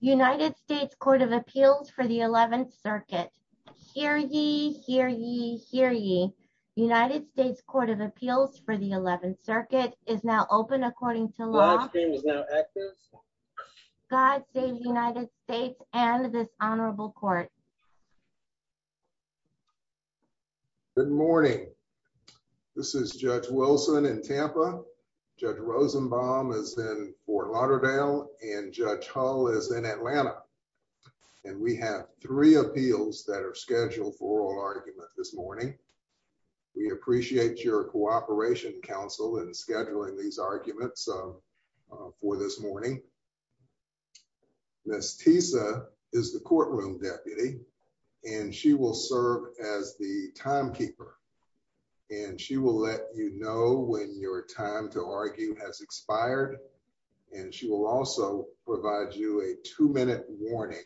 United States Court of Appeals for the 11th Circuit. Hear ye, hear ye, hear ye. United States Court of Appeals for the 11th Circuit is now open according to law. God save the United States and this honorable court. Good morning. This is Judge Wilson in Tampa. Judge Rosenbaum is in Fort Lauderdale and Judge Hull is in Atlanta and we have three appeals that are scheduled for oral argument this morning. We appreciate your cooperation counsel in scheduling these arguments for this morning. Ms. Tisa is the courtroom deputy and she will as the timekeeper and she will let you know when your time to argue has expired and she will also provide you a two-minute warning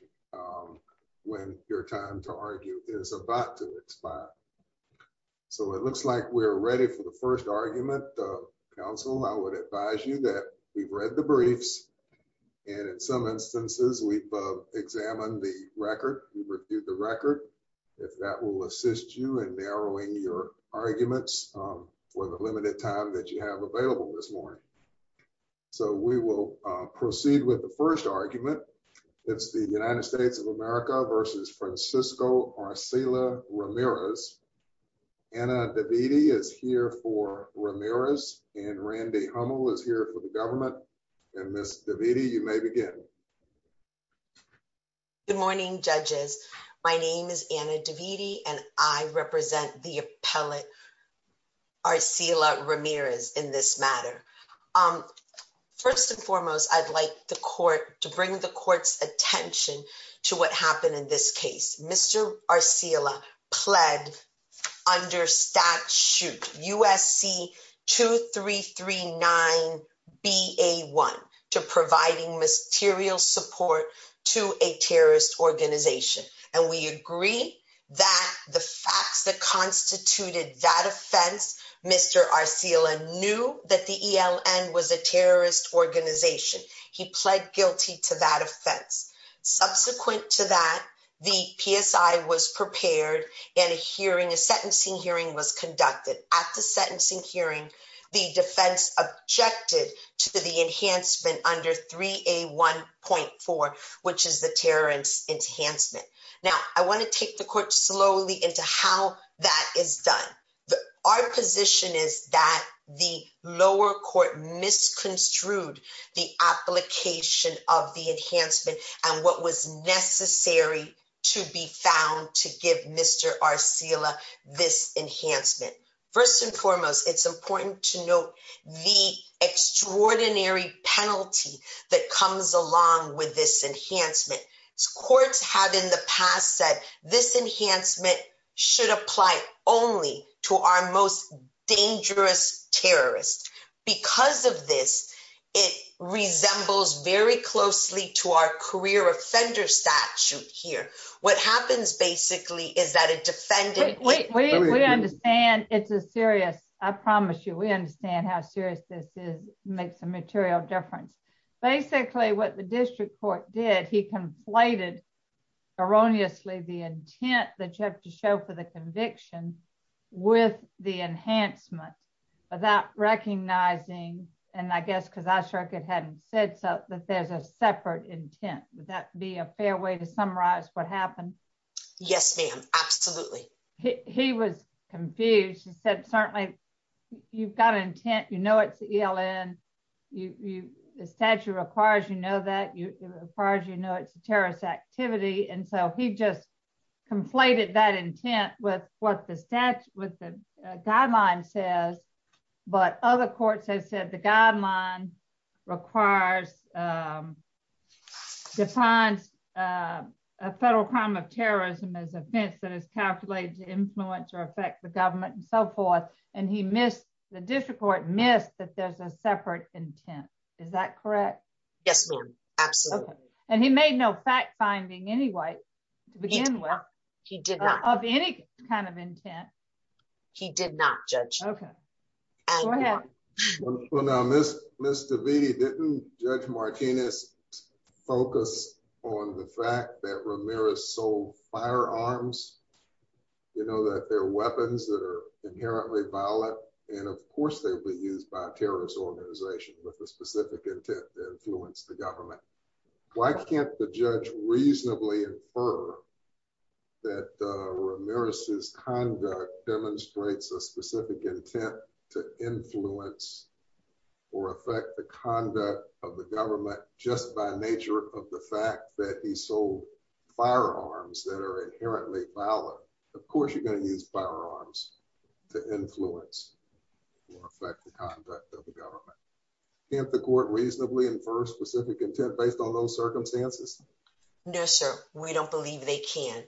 when your time to argue is about to expire. So it looks like we're ready for the first argument. Counsel, I would advise you that we've read the briefs and in some instances we've examined the record. We've reviewed the record. If that will assist you in narrowing your arguments for the limited time that you have available this morning. So we will proceed with the first argument. It's the United States of America v. Francisco Arcelia Ramirez. Anna Davidi is here for Ramirez and Randy Hummel is here for government and Ms. Davidi you may begin. Good morning judges. My name is Anna Davidi and I represent the appellate Arcelia Ramirez in this matter. First and foremost I'd like the court to bring the court's attention to what happened in this case. Mr. Arcelia pled under statute USC 2339 BA1 to providing material support to a terrorist organization and we agree that the facts that constituted that offense Mr. Arcelia knew that the ELN was a terrorist organization. He pled guilty to that offense. Subsequent to that the PSI was prepared and a hearing a sentencing hearing was conducted. At the sentencing hearing the defense objected to the enhancement under 3A1.4 which is the terrorist enhancement. Now I want to take the court slowly into how that is done. Our position is that the lower court misconstrued the application of the enhancement and what was enhancement. First and foremost it's important to note the extraordinary penalty that comes along with this enhancement. Courts have in the past said this enhancement should apply only to our most dangerous terrorists. Because of this it resembles very closely to our career offender statute here. What happens basically is that a defendant wait we understand it's a serious I promise you we understand how serious this is makes a material difference. Basically what the district court did he conflated erroneously the intent that you have to show for the conviction with the enhancement without recognizing and I guess because our circuit hadn't said so that there's a separate intent. Would that be a fair way to summarize what happened? Yes ma'am absolutely. He was confused he said certainly you've got intent you know it's the ELN you the statute requires you know that you as far as you know it's a terrorist activity and so he just conflated that intent with what the statute with the guideline says but other courts have said the guideline requires defines a federal crime of terrorism as offense that is calculated to influence or affect the government and so forth and he missed the district court missed that there's a separate intent. Is that correct? Yes ma'am absolutely. And he made no fact finding anyway to begin with of any kind of intent. He did not judge. Okay go ahead. Well now Miss Miss DeVete didn't Judge Martinez focus on the fact that Ramirez sold firearms you know that they're weapons that are inherently violent and of course they'll be used by a terrorist organization with a specific intent to influence the government. Why can't the judge reasonably infer that Ramirez's conduct demonstrates a specific intent to influence or affect the conduct of the government just by nature of the fact that he sold firearms that are inherently violent. Of course you're going to use firearms to influence or affect the conduct of the government. Can't the court reasonably infer specific intent based on those circumstances? No sir we don't believe they can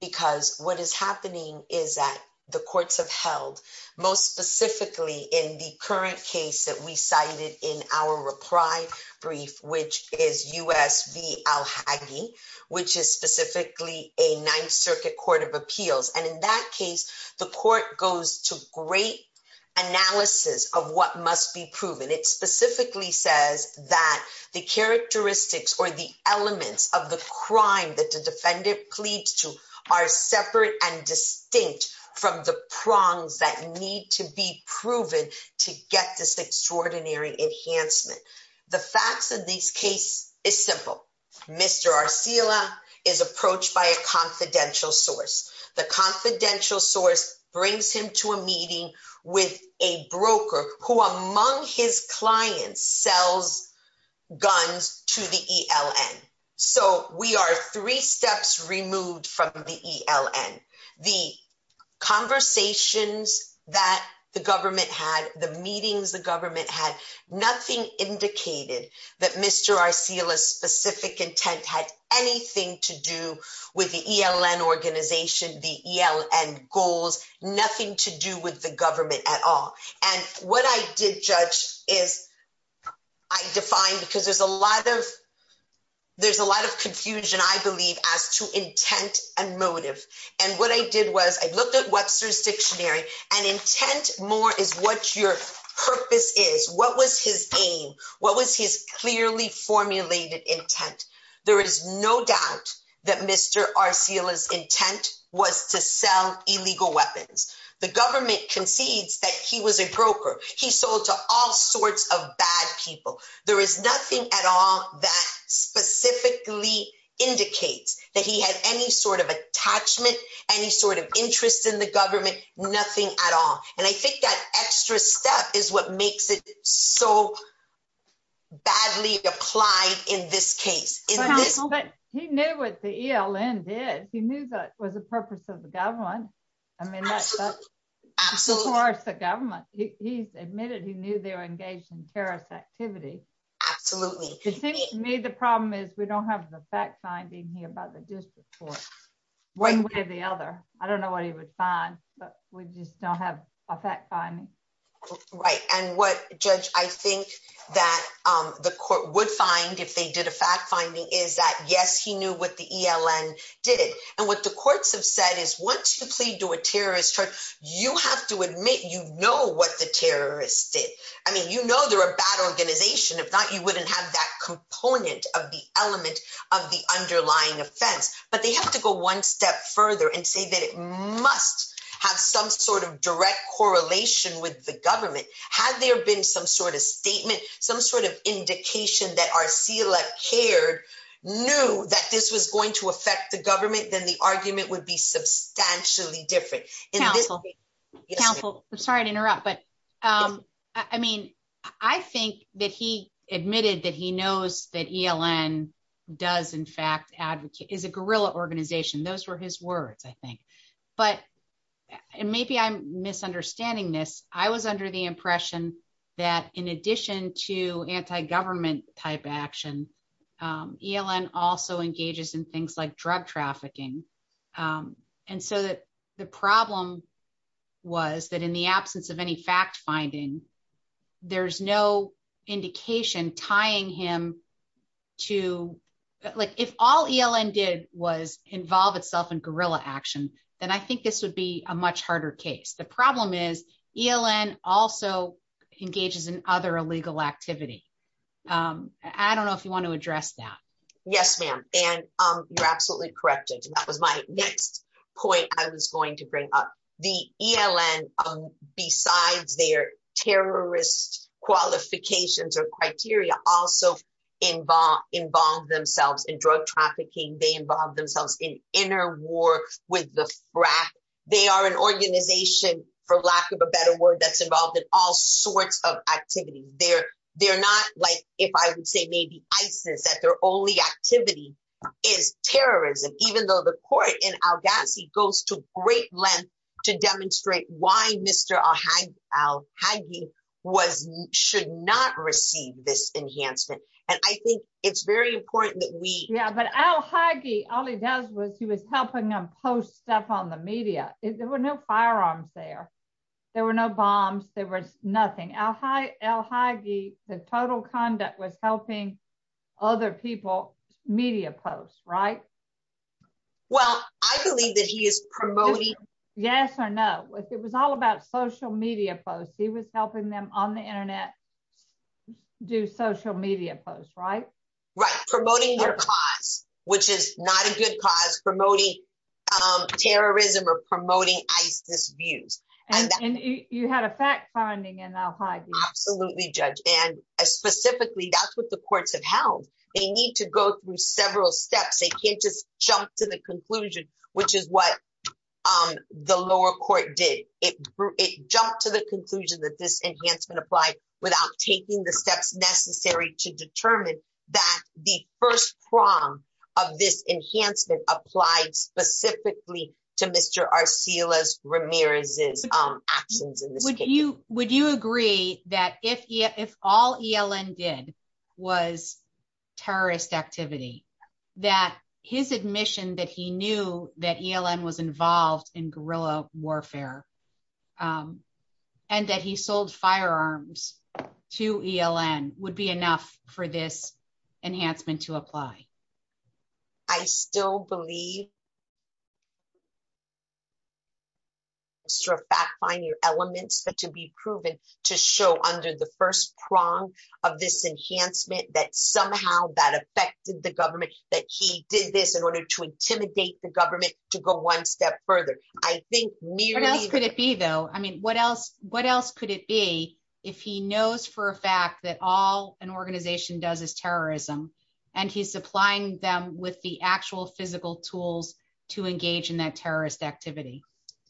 because what is happening is that the courts have held most specifically in the current case that we cited in our reply brief which is U.S. v. Alhagy which is specifically a ninth circuit court of appeals and in that case the court goes to great analysis of what must be proven. It specifically says that the characteristics or the elements of the crime that the defendant pleads to are separate and distinct from the prongs that need to be proven to get this extraordinary enhancement. The facts of this case is simple. Mr. Arcila is approached by a confidential source. The confidential source brings him to a meeting with a broker who among his clients sells guns to the ELN. So we are three steps removed from the ELN. The conversations that the government had, the meetings the government had, nothing indicated that Mr. Arcila's specific intent had anything to do with the ELN organization, the ELN goals, nothing to do with the government at all and what I did judge is I defined because there's a lot of there's a lot of confusion I believe as to intent and motive and what I did was I looked at Webster's dictionary and intent more is what your purpose is, what was his aim, what was his clearly formulated intent. There is no doubt that Mr. Arcila's intent was to sell illegal weapons. The government concedes that he was a broker. He sold to all sorts of bad people. There is nothing at all that specifically indicates that he had any sort of attachment, any sort of interest in the government, nothing at all and I think that extra step is what makes it so badly applied in this case. But he knew what the ELN did. He knew that was the purpose of the government. I mean that's of course the government. He's admitted he knew they were engaged in terrorist activity. Absolutely. To me the problem is we don't have the fact finding here by the district court one way or the other. I just don't have a fact finding. Right and what judge I think that the court would find if they did a fact finding is that yes he knew what the ELN did and what the courts have said is once you plead to a terrorist charge you have to admit you know what the terrorists did. I mean you know they're a bad organization. If not you wouldn't have that component of the element of the underlying offense but they have to go one step further and say that it must have some sort of direct correlation with the government. Had there been some sort of statement, some sort of indication that Arsila Kher knew that this was going to affect the government then the argument would be substantially different. Counsel, I'm sorry to interrupt but I mean I think that he admitted that he knows that ELN does in fact advocate, is a guerrilla organization. Those were his words I think but and maybe I'm misunderstanding this. I was under the impression that in addition to anti-government type action ELN also engages in things like drug tying him to like if all ELN did was involve itself in guerrilla action then I think this would be a much harder case. The problem is ELN also engages in other illegal activity. I don't know if you want to address that. Yes ma'am and you're absolutely correct and that was my next point I was going to bring up. The ELN besides their terrorist qualifications or criteria also involve themselves in drug trafficking. They involve themselves in inner war with the frack. They are an organization for lack of a better word that's involved in all sorts of activities. They're not like if I would say maybe ISIS that their only activity is terrorism even though the court in Al-Ghazi goes to great length to demonstrate why Mr. Al-Haghi was should not receive this enhancement and I think it's very important that we. Yeah but Al-Haghi all he does was he was helping them post stuff on the media. There were no firearms there. There were no bombs. There was nothing. Al-Haghi the total conduct was helping other people media posts right. Well I believe that he is promoting. Yes or no if it was all about social media posts. He was helping them on the internet do social media posts right. Right promoting their cause which is not a good cause promoting terrorism or promoting ISIS views. And you had a fact finding in Al-Haghi. Absolutely judge and specifically that's what the courts have held. They need to go through several steps. They can't just jump to the conclusion which is what the lower court did. It jumped to the conclusion that this enhancement applied without taking the steps necessary to determine that the first prong of this enhancement applied specifically to Mr. Arsila Ramirez's actions. Would you agree that if if all ELN did was terrorist activity that his admission that he knew that ELN was involved in guerrilla warfare and that he sold firearms to ELN would be enough for this enhancement to apply? I still believe that it's true fact find your elements but to be proven to show under the first prong of this enhancement that somehow that affected the government that he did this in order to intimidate the government to go one step further. I think what else could it be though? I mean what else what else could it be if he knows for a fact that all an organization does is terrorism and he's supplying them with the actual physical tools to engage in that terrorist activity.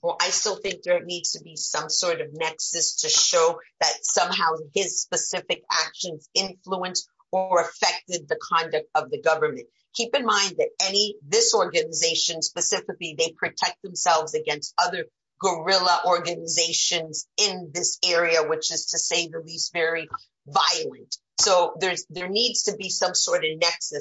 Well I still think there needs to be some sort of nexus to show that somehow his specific actions influenced or affected the conduct of the government. Keep in mind that any this organization specifically they protect themselves against other guerrilla organizations in this area which is to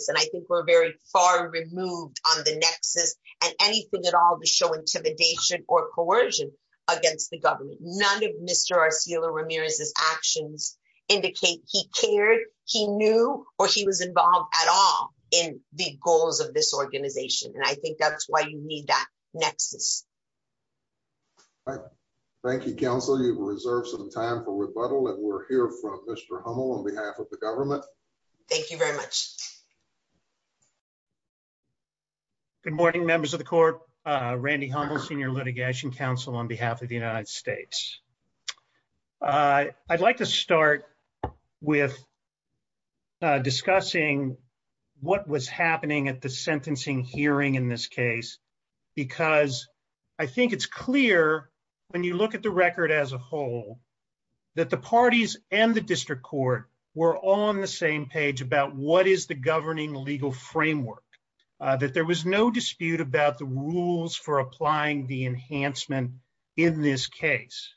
and I think we're very far removed on the nexus and anything at all to show intimidation or coercion against the government. None of Mr. Arcillo Ramirez's actions indicate he cared he knew or he was involved at all in the goals of this organization and I think that's why you need that nexus. All right thank you counsel you've reserved some time for rebuttal and we'll hear from Mr. Hummel on behalf of the government. Thank you very much. Good morning members of the court Randy Hummel senior litigation counsel on behalf of the United States. I'd like to start with discussing what was happening at the sentencing hearing in this case because I think it's clear when you look at the record as a whole that the parties and the district court were on the same page about what is the governing legal framework that there was no dispute about the rules for applying the enhancement in this case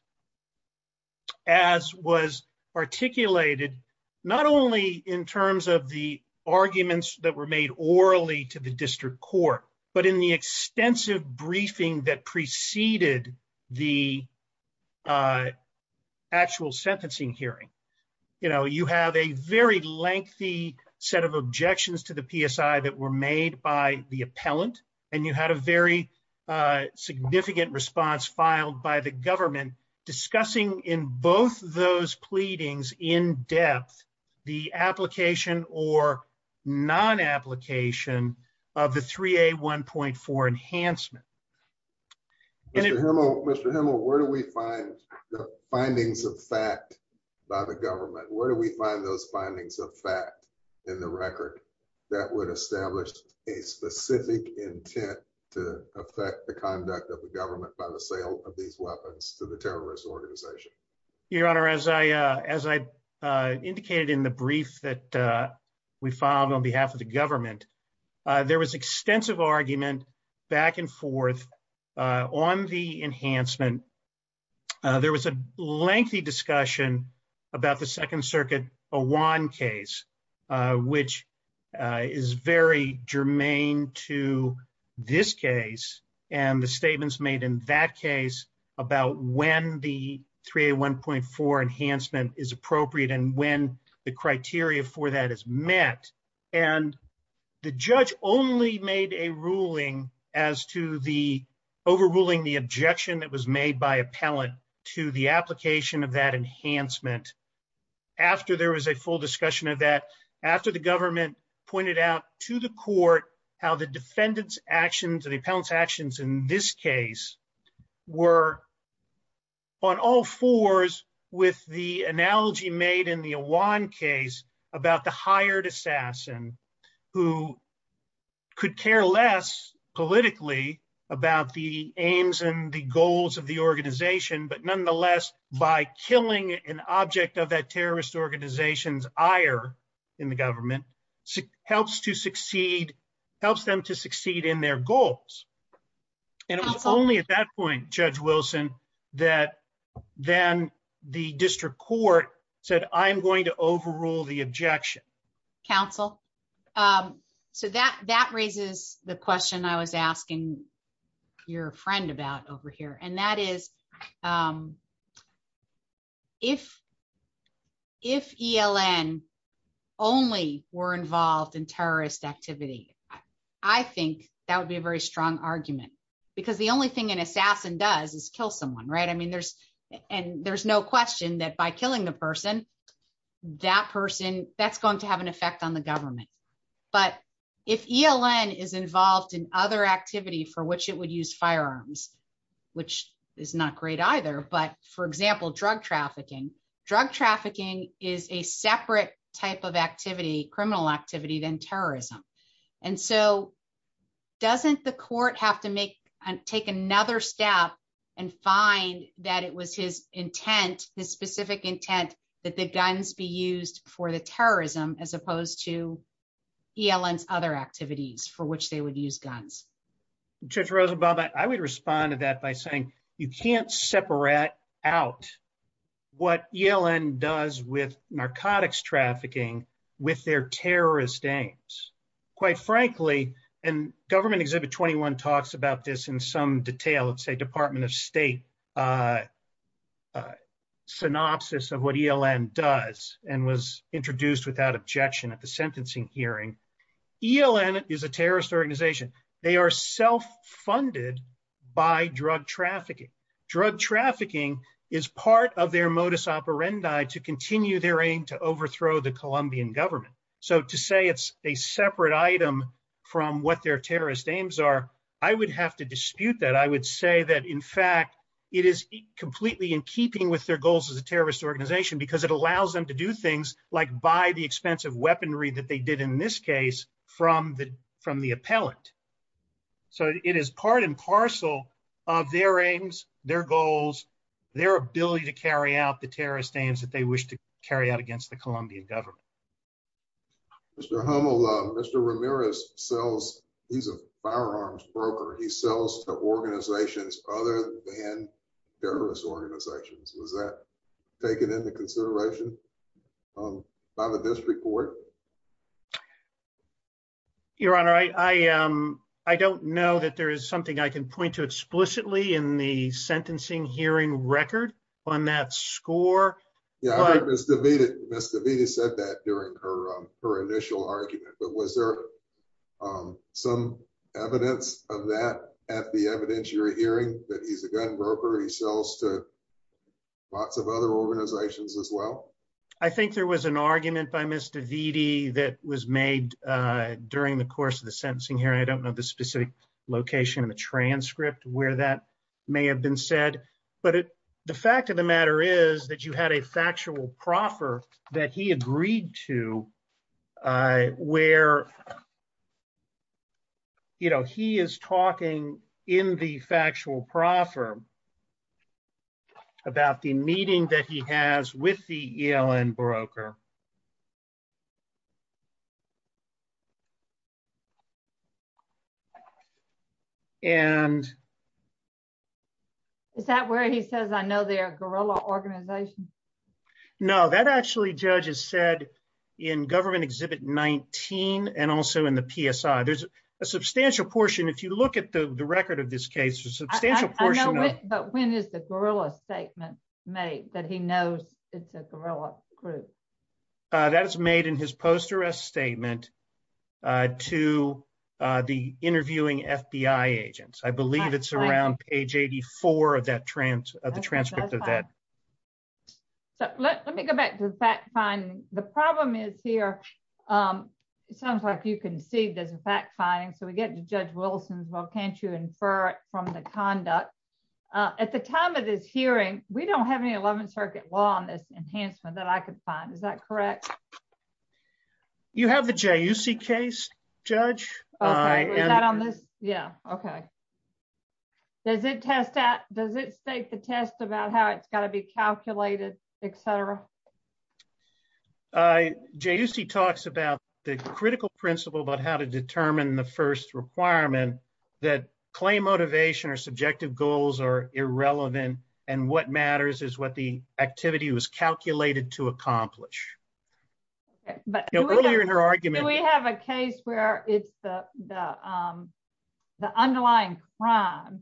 as was articulated not only in terms of the arguments that were made orally to the district court but in the extensive briefing that preceded the actual sentencing hearing. You know you have a very lengthy set of objections to the PSI that were made by the appellant and you had a very significant response filed by the government discussing in both those pleadings in depth the application or non-application of the 3A 1.4 enhancement. Mr. Hummel where do we find the findings of fact by the government? Where do we find those findings of fact in the record that would establish a by the sale of these weapons to the terrorist organization? Your honor as I indicated in the brief that we filed on behalf of the government there was extensive argument back and forth on the enhancement. There was a lengthy discussion about the Second Circuit Awan case which is very germane to this case and the statements made in that case about when the 3A 1.4 enhancement is appropriate and when the criteria for that is met and the judge only made a ruling as to the overruling the objection that was made by appellant to the application of that enhancement after there was a full discussion of that after the government pointed out to the court how the defendant's actions and the appellant's actions in this case were on all fours with the analogy made in the Awan case about the hired assassin who could care less politically about the aims and the goals of the organization but nonetheless by killing an object of that terrorist organization's ire in the government helps to succeed helps them to succeed in their goals and it was only at that point Judge Wilson that then the district court said I'm going to over here and that is if ELN only were involved in terrorist activity I think that would be a very strong argument because the only thing an assassin does is kill someone right I mean there's and there's no question that by killing the person that person that's going to have an effect on the which is not great either but for example drug trafficking drug trafficking is a separate type of activity criminal activity than terrorism and so doesn't the court have to make and take another step and find that it was his intent his specific intent that the guns be used for the terrorism as to ELN's other activities for which they would use guns. Judge Rosenbaum I would respond to that by saying you can't separate out what ELN does with narcotics trafficking with their terrorist aims quite frankly and government exhibit 21 talks about this in some detail let's say department of at the sentencing hearing ELN is a terrorist organization they are self-funded by drug trafficking drug trafficking is part of their modus operandi to continue their aim to overthrow the Colombian government so to say it's a separate item from what their terrorist aims are I would have to dispute that I would say that in fact it is completely in keeping with their goals as a weaponry that they did in this case from the from the appellant so it is part and parcel of their aims their goals their ability to carry out the terrorist aims that they wish to carry out against the Colombian government. Mr. Hummel, Mr. Ramirez sells he's a firearms broker he sells to organizations other than terrorist organizations was that taken into consideration um by the district court? Your honor I um I don't know that there is something I can point to explicitly in the sentencing hearing record on that score. Yeah I think Ms. DeVita said that during her um her initial argument but was there um some evidence of that at the evidence you're hearing that he's a gun broker he sells to lots of other organizations as well? I think there was an argument by Ms. DeVita that was made uh during the course of the sentencing hearing I don't know the specific location of the transcript where that may have been said but the fact of the matter is that you had a factual proffer that he agreed to uh where you know he is talking in the factual proffer about the meeting that he has with the ELN broker and is that where he says I know they're a guerrilla organization? No that actually judge has said in government exhibit 19 and also in the PSI there's a substantial portion if you look at the record of this case there's a substantial portion but when is the guerrilla statement made that he knows it's a guerrilla group? Uh that is made in his post arrest statement uh to uh the interviewing FBI agents I believe it's around page 84 of that trans of the transcript of that. So let me go back to the fact finding the problem is here um it sounds like you as a fact finding so we get to judge Wilson's well can't you infer it from the conduct uh at the time of this hearing we don't have any 11th circuit law on this enhancement that I could find is that correct? You have the JUC case judge. Is that on this? Yeah okay. Does it test that does it state the test about how it's got to be calculated etc? Uh JUC talks about the critical principle about how to determine the first requirement that claim motivation or subjective goals are irrelevant and what matters is what the activity was calculated to accomplish. But earlier in her argument we have a case where it's the the um the underlying crime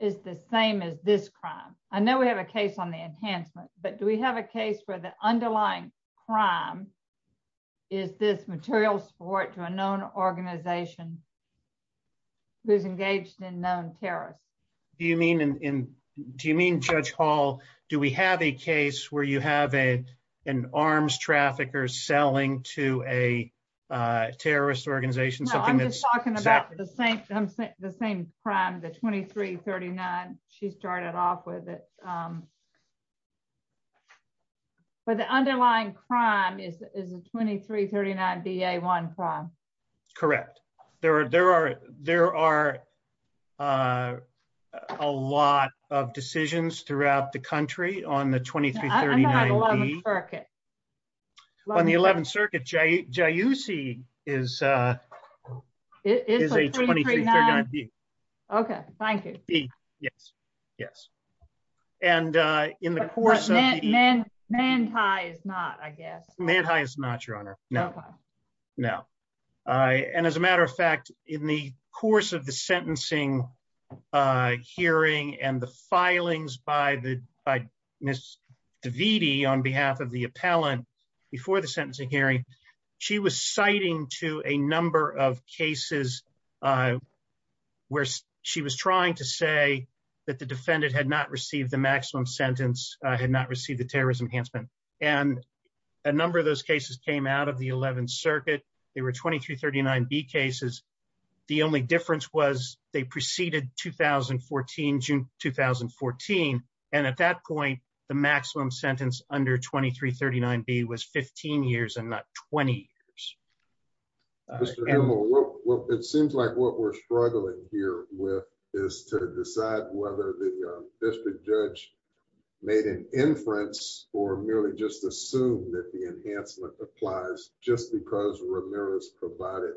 is the same as this crime. I know we have a case on the enhancement but do we have a case where the underlying crime is this material support to a known organization who's engaged in known terrorists? Do you mean in do you mean Judge Hall do we have a case where you have a an arms trafficker selling to a uh terrorist organization something that's talking the same the same crime the 2339 she started off with it um but the underlying crime is is a 2339 DA1 crime. Correct there are there are there are uh a lot of decisions throughout the country on the 2339. On the 11th circuit. On the 11th circuit JUC is uh it is a 2339B. Okay thank you. Yes yes and uh in the course of the event. Mandhi is not I guess. Mandhi is not your honor no no uh and as a matter of fact in the course of the sentencing uh hearing and the filings by the by Ms. Davidi on behalf of the appellant before the sentencing hearing she was citing to a number of cases where she was trying to say that the defendant had not received the maximum sentence had not received the terrorism enhancement and a number of those cases came out of the 11th circuit. They were 2339B cases. The only difference was they preceded 2014 June 2014 and at that point the maximum sentence under 2339B was 15 years and not 20 years. It seems like what we're struggling here with is to decide whether the district judge made an inference or merely just assumed that the enhancement applies just because Ramirez provided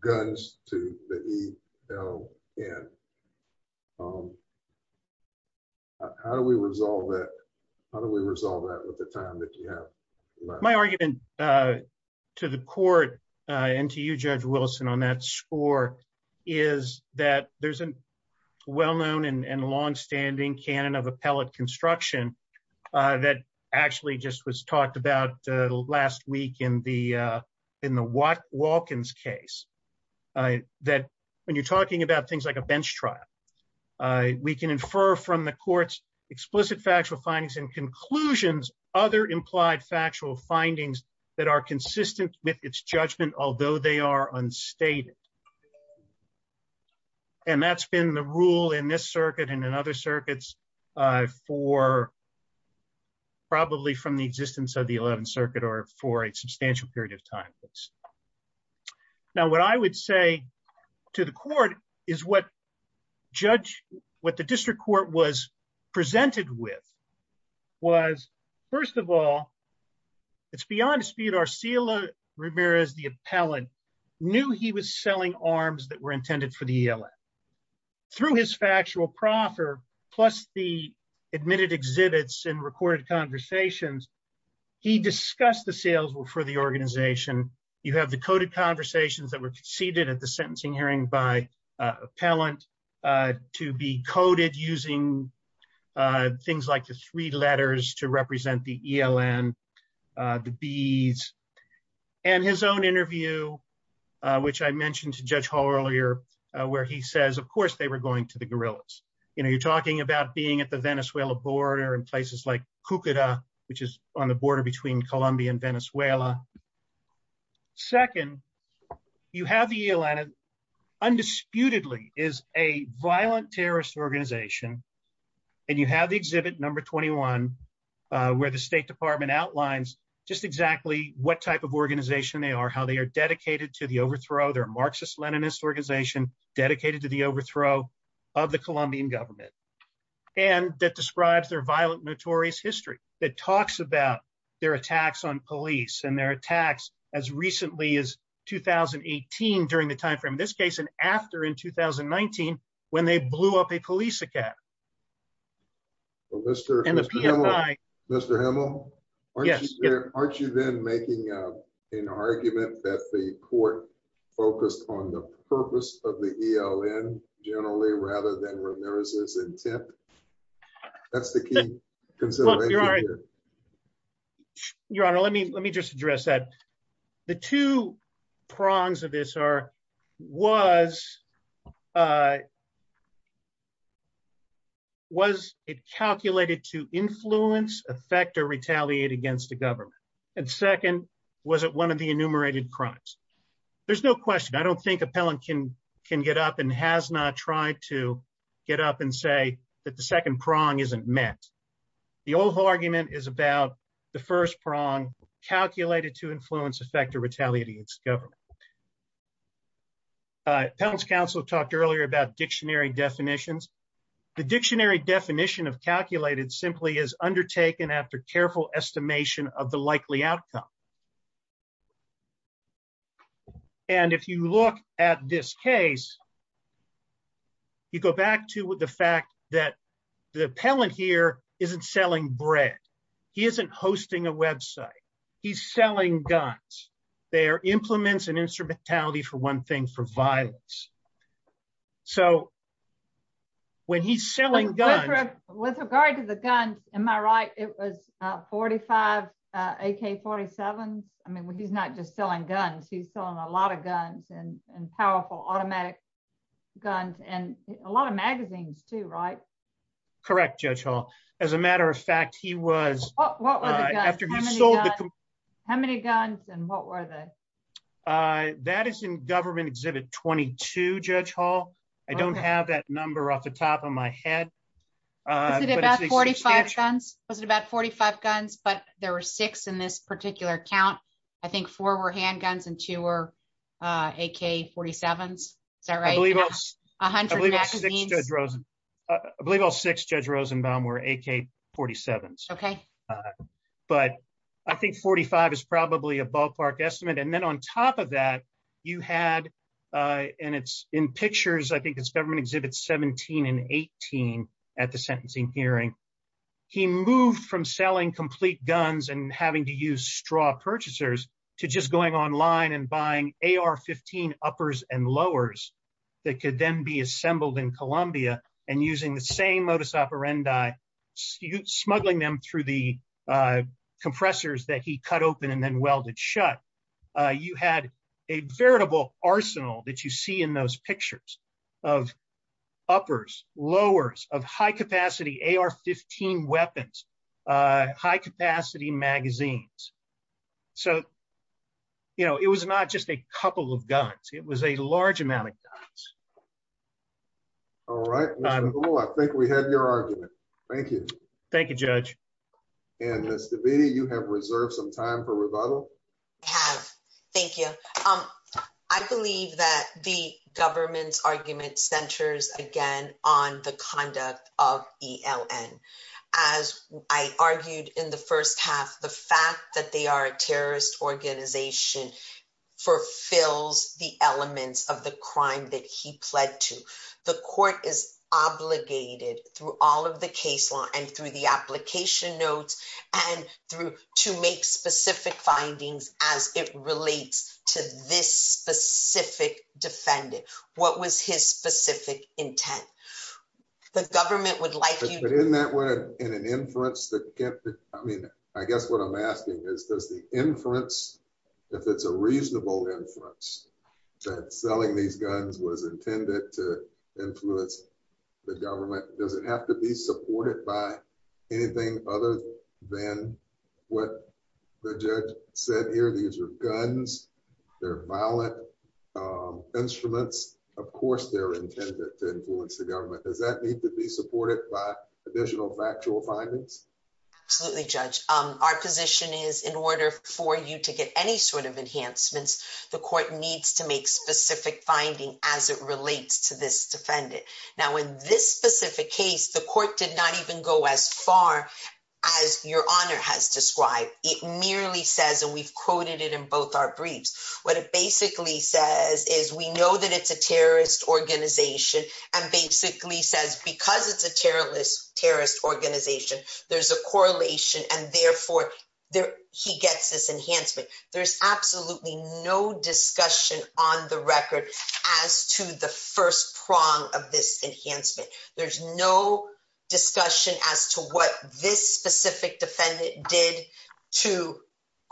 guns to the ELN. How do we resolve that? How do we resolve that with the time that you have? My argument uh to the court uh and to you Judge Wilson on that score is that there's a well-known and long-standing canon of appellate construction uh that actually just was talked about uh last week in the uh in the Watkins case uh that when you're talking about things like a bench trial uh we can infer from the court's explicit factual findings and conclusions other implied factual findings that are consistent with its judgment although they are unstated. And that's been the rule in this circuit and in other circuits uh for probably from the existence of the 11th circuit or for a substantial period of time. Now what I would say to the court is what judge what the district court was presented with was first of all it's beyond dispute Arcila Ramirez the appellant knew he was selling arms that were intended for the ELN. Through his factual proffer plus the admitted exhibits and recorded conversations he discussed the sales for the organization. You have the coded conversations that were conceded at the sentencing hearing by uh appellant uh to be coded using uh things like the three letters to represent the ELN uh the B's and his own interview which I mentioned to Judge Hall earlier where he says of course they were going to the guerrillas. You know you're talking about being at the Venezuela border in places like Cucuta which is on the border between Colombia and Venezuela. Second you have the ELN undisputedly is a violent terrorist organization and you have the exhibit number 21 uh where the state department outlines just exactly what type of organization they are how they are dedicated to the overthrow their Marxist Leninist organization dedicated to the overthrow of the Colombian government and that describes their violent notorious history that talks about their attacks on police and their attacks as recently as 2018 during the time frame this case and after in 2019 when they blew up a Aren't you then making an argument that the court focused on the purpose of the ELN generally rather than Ramirez's intent? That's the key. Your honor let me let me just address that the two prongs of this are was uh and second was it one of the enumerated crimes? There's no question I don't think appellant can can get up and has not tried to get up and say that the second prong isn't met. The overall argument is about the first prong calculated to influence effect or retaliate against government. Appellant's counsel talked earlier about dictionary definitions. The dictionary definition of calculated simply is undertaken after careful estimation of the likely outcome and if you look at this case you go back to the fact that the appellant here isn't selling bread. He isn't hosting a website. He's selling guns. They are implements and instrumentality for one thing for violence. So when he's selling guns with regard to the guns am I right it was uh 45 uh AK-47s? I mean he's not just selling guns he's selling a lot of guns and and powerful automatic guns and a lot of magazines too right? Correct Judge Hall. As a matter of fact he was after he sold how many guns and what were they? Uh that is in government 22 Judge Hall. I don't have that number off the top of my head. Was it about 45 guns? But there were six in this particular count. I think four were handguns and two were uh AK-47s. Is that right? I believe all six Judge Rosenbaum were AK-47s. Okay. But I think 45 is probably ballpark estimate and then on top of that you had uh and it's in pictures I think it's government exhibits 17 and 18 at the sentencing hearing. He moved from selling complete guns and having to use straw purchasers to just going online and buying AR-15 uppers and lowers that could then be assembled in Colombia and using the same modus operandi smuggling them through the compressors that he cut open and then welded shut. Uh you had a veritable arsenal that you see in those pictures of uppers lowers of high capacity AR-15 weapons uh high capacity magazines. So you know it was not just a couple of guns it was a large amount of guns. All right, Mr. Gould, I think we have your argument. Thank you. Thank you, Judge. And Ms. Davidi, you have reserved some time for rebuttal. I have. Thank you. Um I believe that the government's argument centers again on the conduct of ELN. As I argued in the first half, the fact that they are a terrorist organization fulfills the elements of the crime that he pled to. The court is obligated through all of the case law and through the application notes and through to make specific findings as it relates to this specific defendant. What was his specific intent? The government would like you... But in that way, in an inference that kept it, I mean I guess what I'm asking is does the inference, if it's a reasonable inference, that selling these guns was intended to influence the government, does it have to be supported by anything other than what the judge said here? These are guns, they're violent instruments, of course they're intended to influence the government. Does that need to be supported by additional factual findings? Absolutely, Judge. Our position is in order for you to get any sort of enhancements, the court needs to make specific findings as it relates to this defendant. Now in this specific case, the court did not even go as far as your honor has described. It merely says, and we've quoted it in both our briefs, what it basically says is we know that it's a terrorist organization and basically says because it's a terrorist organization, there's a correlation and therefore he gets this enhancement. There's absolutely no discussion on the record as to the first prong of this enhancement. There's no discussion as to what this specific defendant did to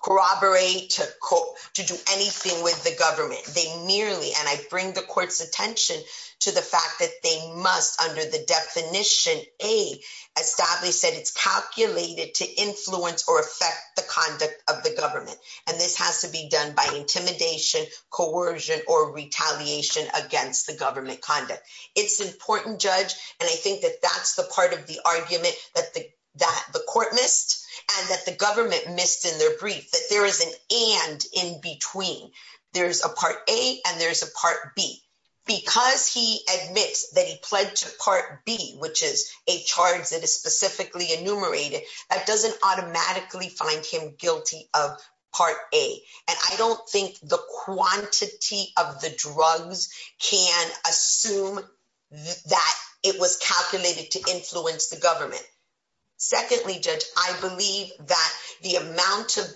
corroborate, to do anything with the government. They merely, and I bring the court's attention to the fact that they must, under the definition A, establish that it's calculated to influence or affect the conduct of the government, and this has to be done by intimidation, coercion, or retaliation against the government conduct. It's important, Judge, and I think that that's the part of the argument that the court missed and that the government missed in their brief, that there is an and in between. There's a part A and there's a part B. Because he admits that he pled to part B, which is a charge that is specifically enumerated, that doesn't automatically find him guilty of part A, and I don't think the quantity of the drugs can assume that it was calculated to influence the government. Secondly, Judge, I believe that the amount of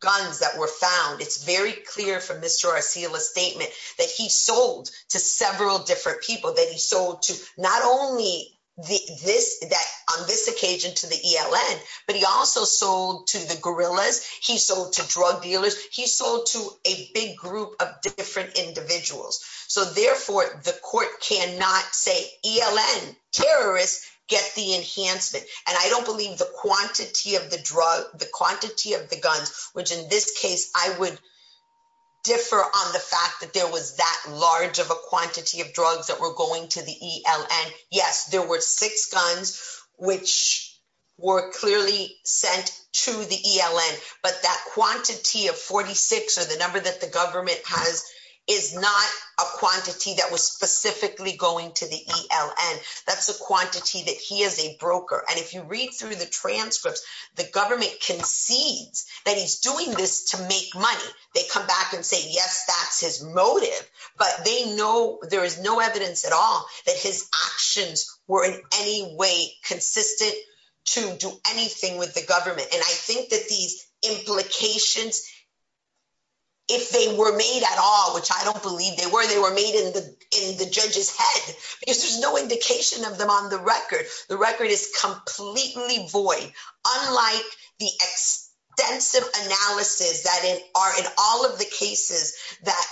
guns that were found, it's very clear from Mr. Arsila's statement that he sold to several different people, that he sold to not only on this occasion to the ELN, but he also sold to the guerrillas, he sold to drug dealers, he sold to a big group of different individuals. So therefore, the court cannot say ELN terrorists get the enhancement, and I don't believe the quantity of the drug, the quantity of the guns, which in this case, I would differ on the fact that there was that large of a quantity of drugs that were going to the ELN. Yes, there were six guns, which were clearly sent to the ELN, but that quantity of 46, or the number that the government has, is not a quantity that was specifically going to the ELN. That's a quantity that he is a broker. And if you read through the doing this to make money, they come back and say, yes, that's his motive. But they know there is no evidence at all that his actions were in any way consistent to do anything with the government. And I think that these implications, if they were made at all, which I don't believe they were, they were made in the judge's head, because there's no indication of them on the record. The record is completely void, unlike the extensive analysis that are in all of the cases that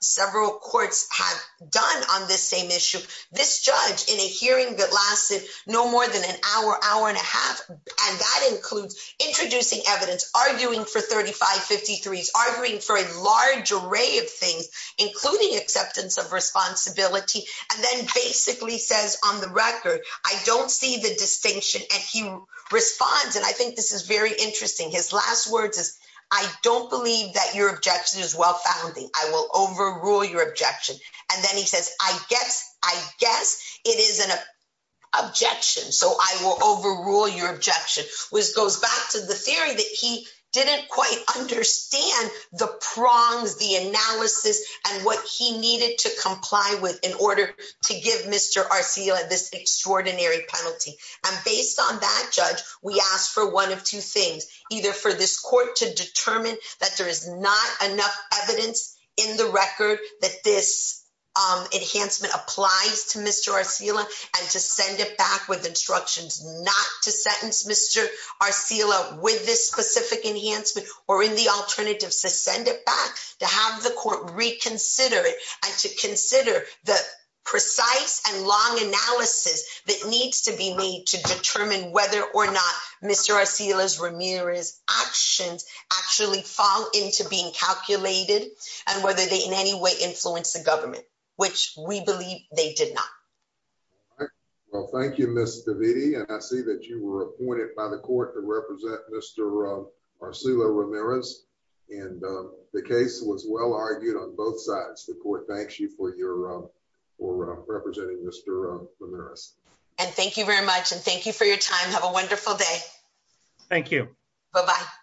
several courts have done on this same issue. This judge, in a hearing that lasted no more than an hour, hour and a half, and that includes introducing evidence, arguing for 3553s, arguing for a large array of things, including acceptance of responsibility, and then basically says on the record, I don't see the distinction. And he responds, and I think this is very interesting. His last words is, I don't believe that your objection is well-founding. I will overrule your objection. And then he says, I guess it is an objection, so I will overrule your objection, which goes back to the theory that he didn't quite understand the prongs, the analysis, and what he needed to comply with in order to give Mr. Arcila this extraordinary penalty. And based on that, Judge, we ask for one of two things, either for this court to determine that there is not enough evidence in the record that this enhancement applies to Mr. Arcila, and to send it back with instructions not to sentence Mr. Arcila with this specific enhancement, or in the alternative to send it back, to have the court reconsider it, and to consider the precise and long analysis that needs to be made to determine whether or not Mr. Arcila's, Ramirez's actions actually fall into being calculated, and whether they in any way influence the government, which we believe they did not. Well, thank you, Ms. Davidi, and I see that you were appointed by the court to represent Mr. Arcila Ramirez, and the case was well argued on both sides. The court thanks you for representing Mr. Ramirez. And thank you very much, and thank you for your time. Have a wonderful day. Thank you. Bye-bye.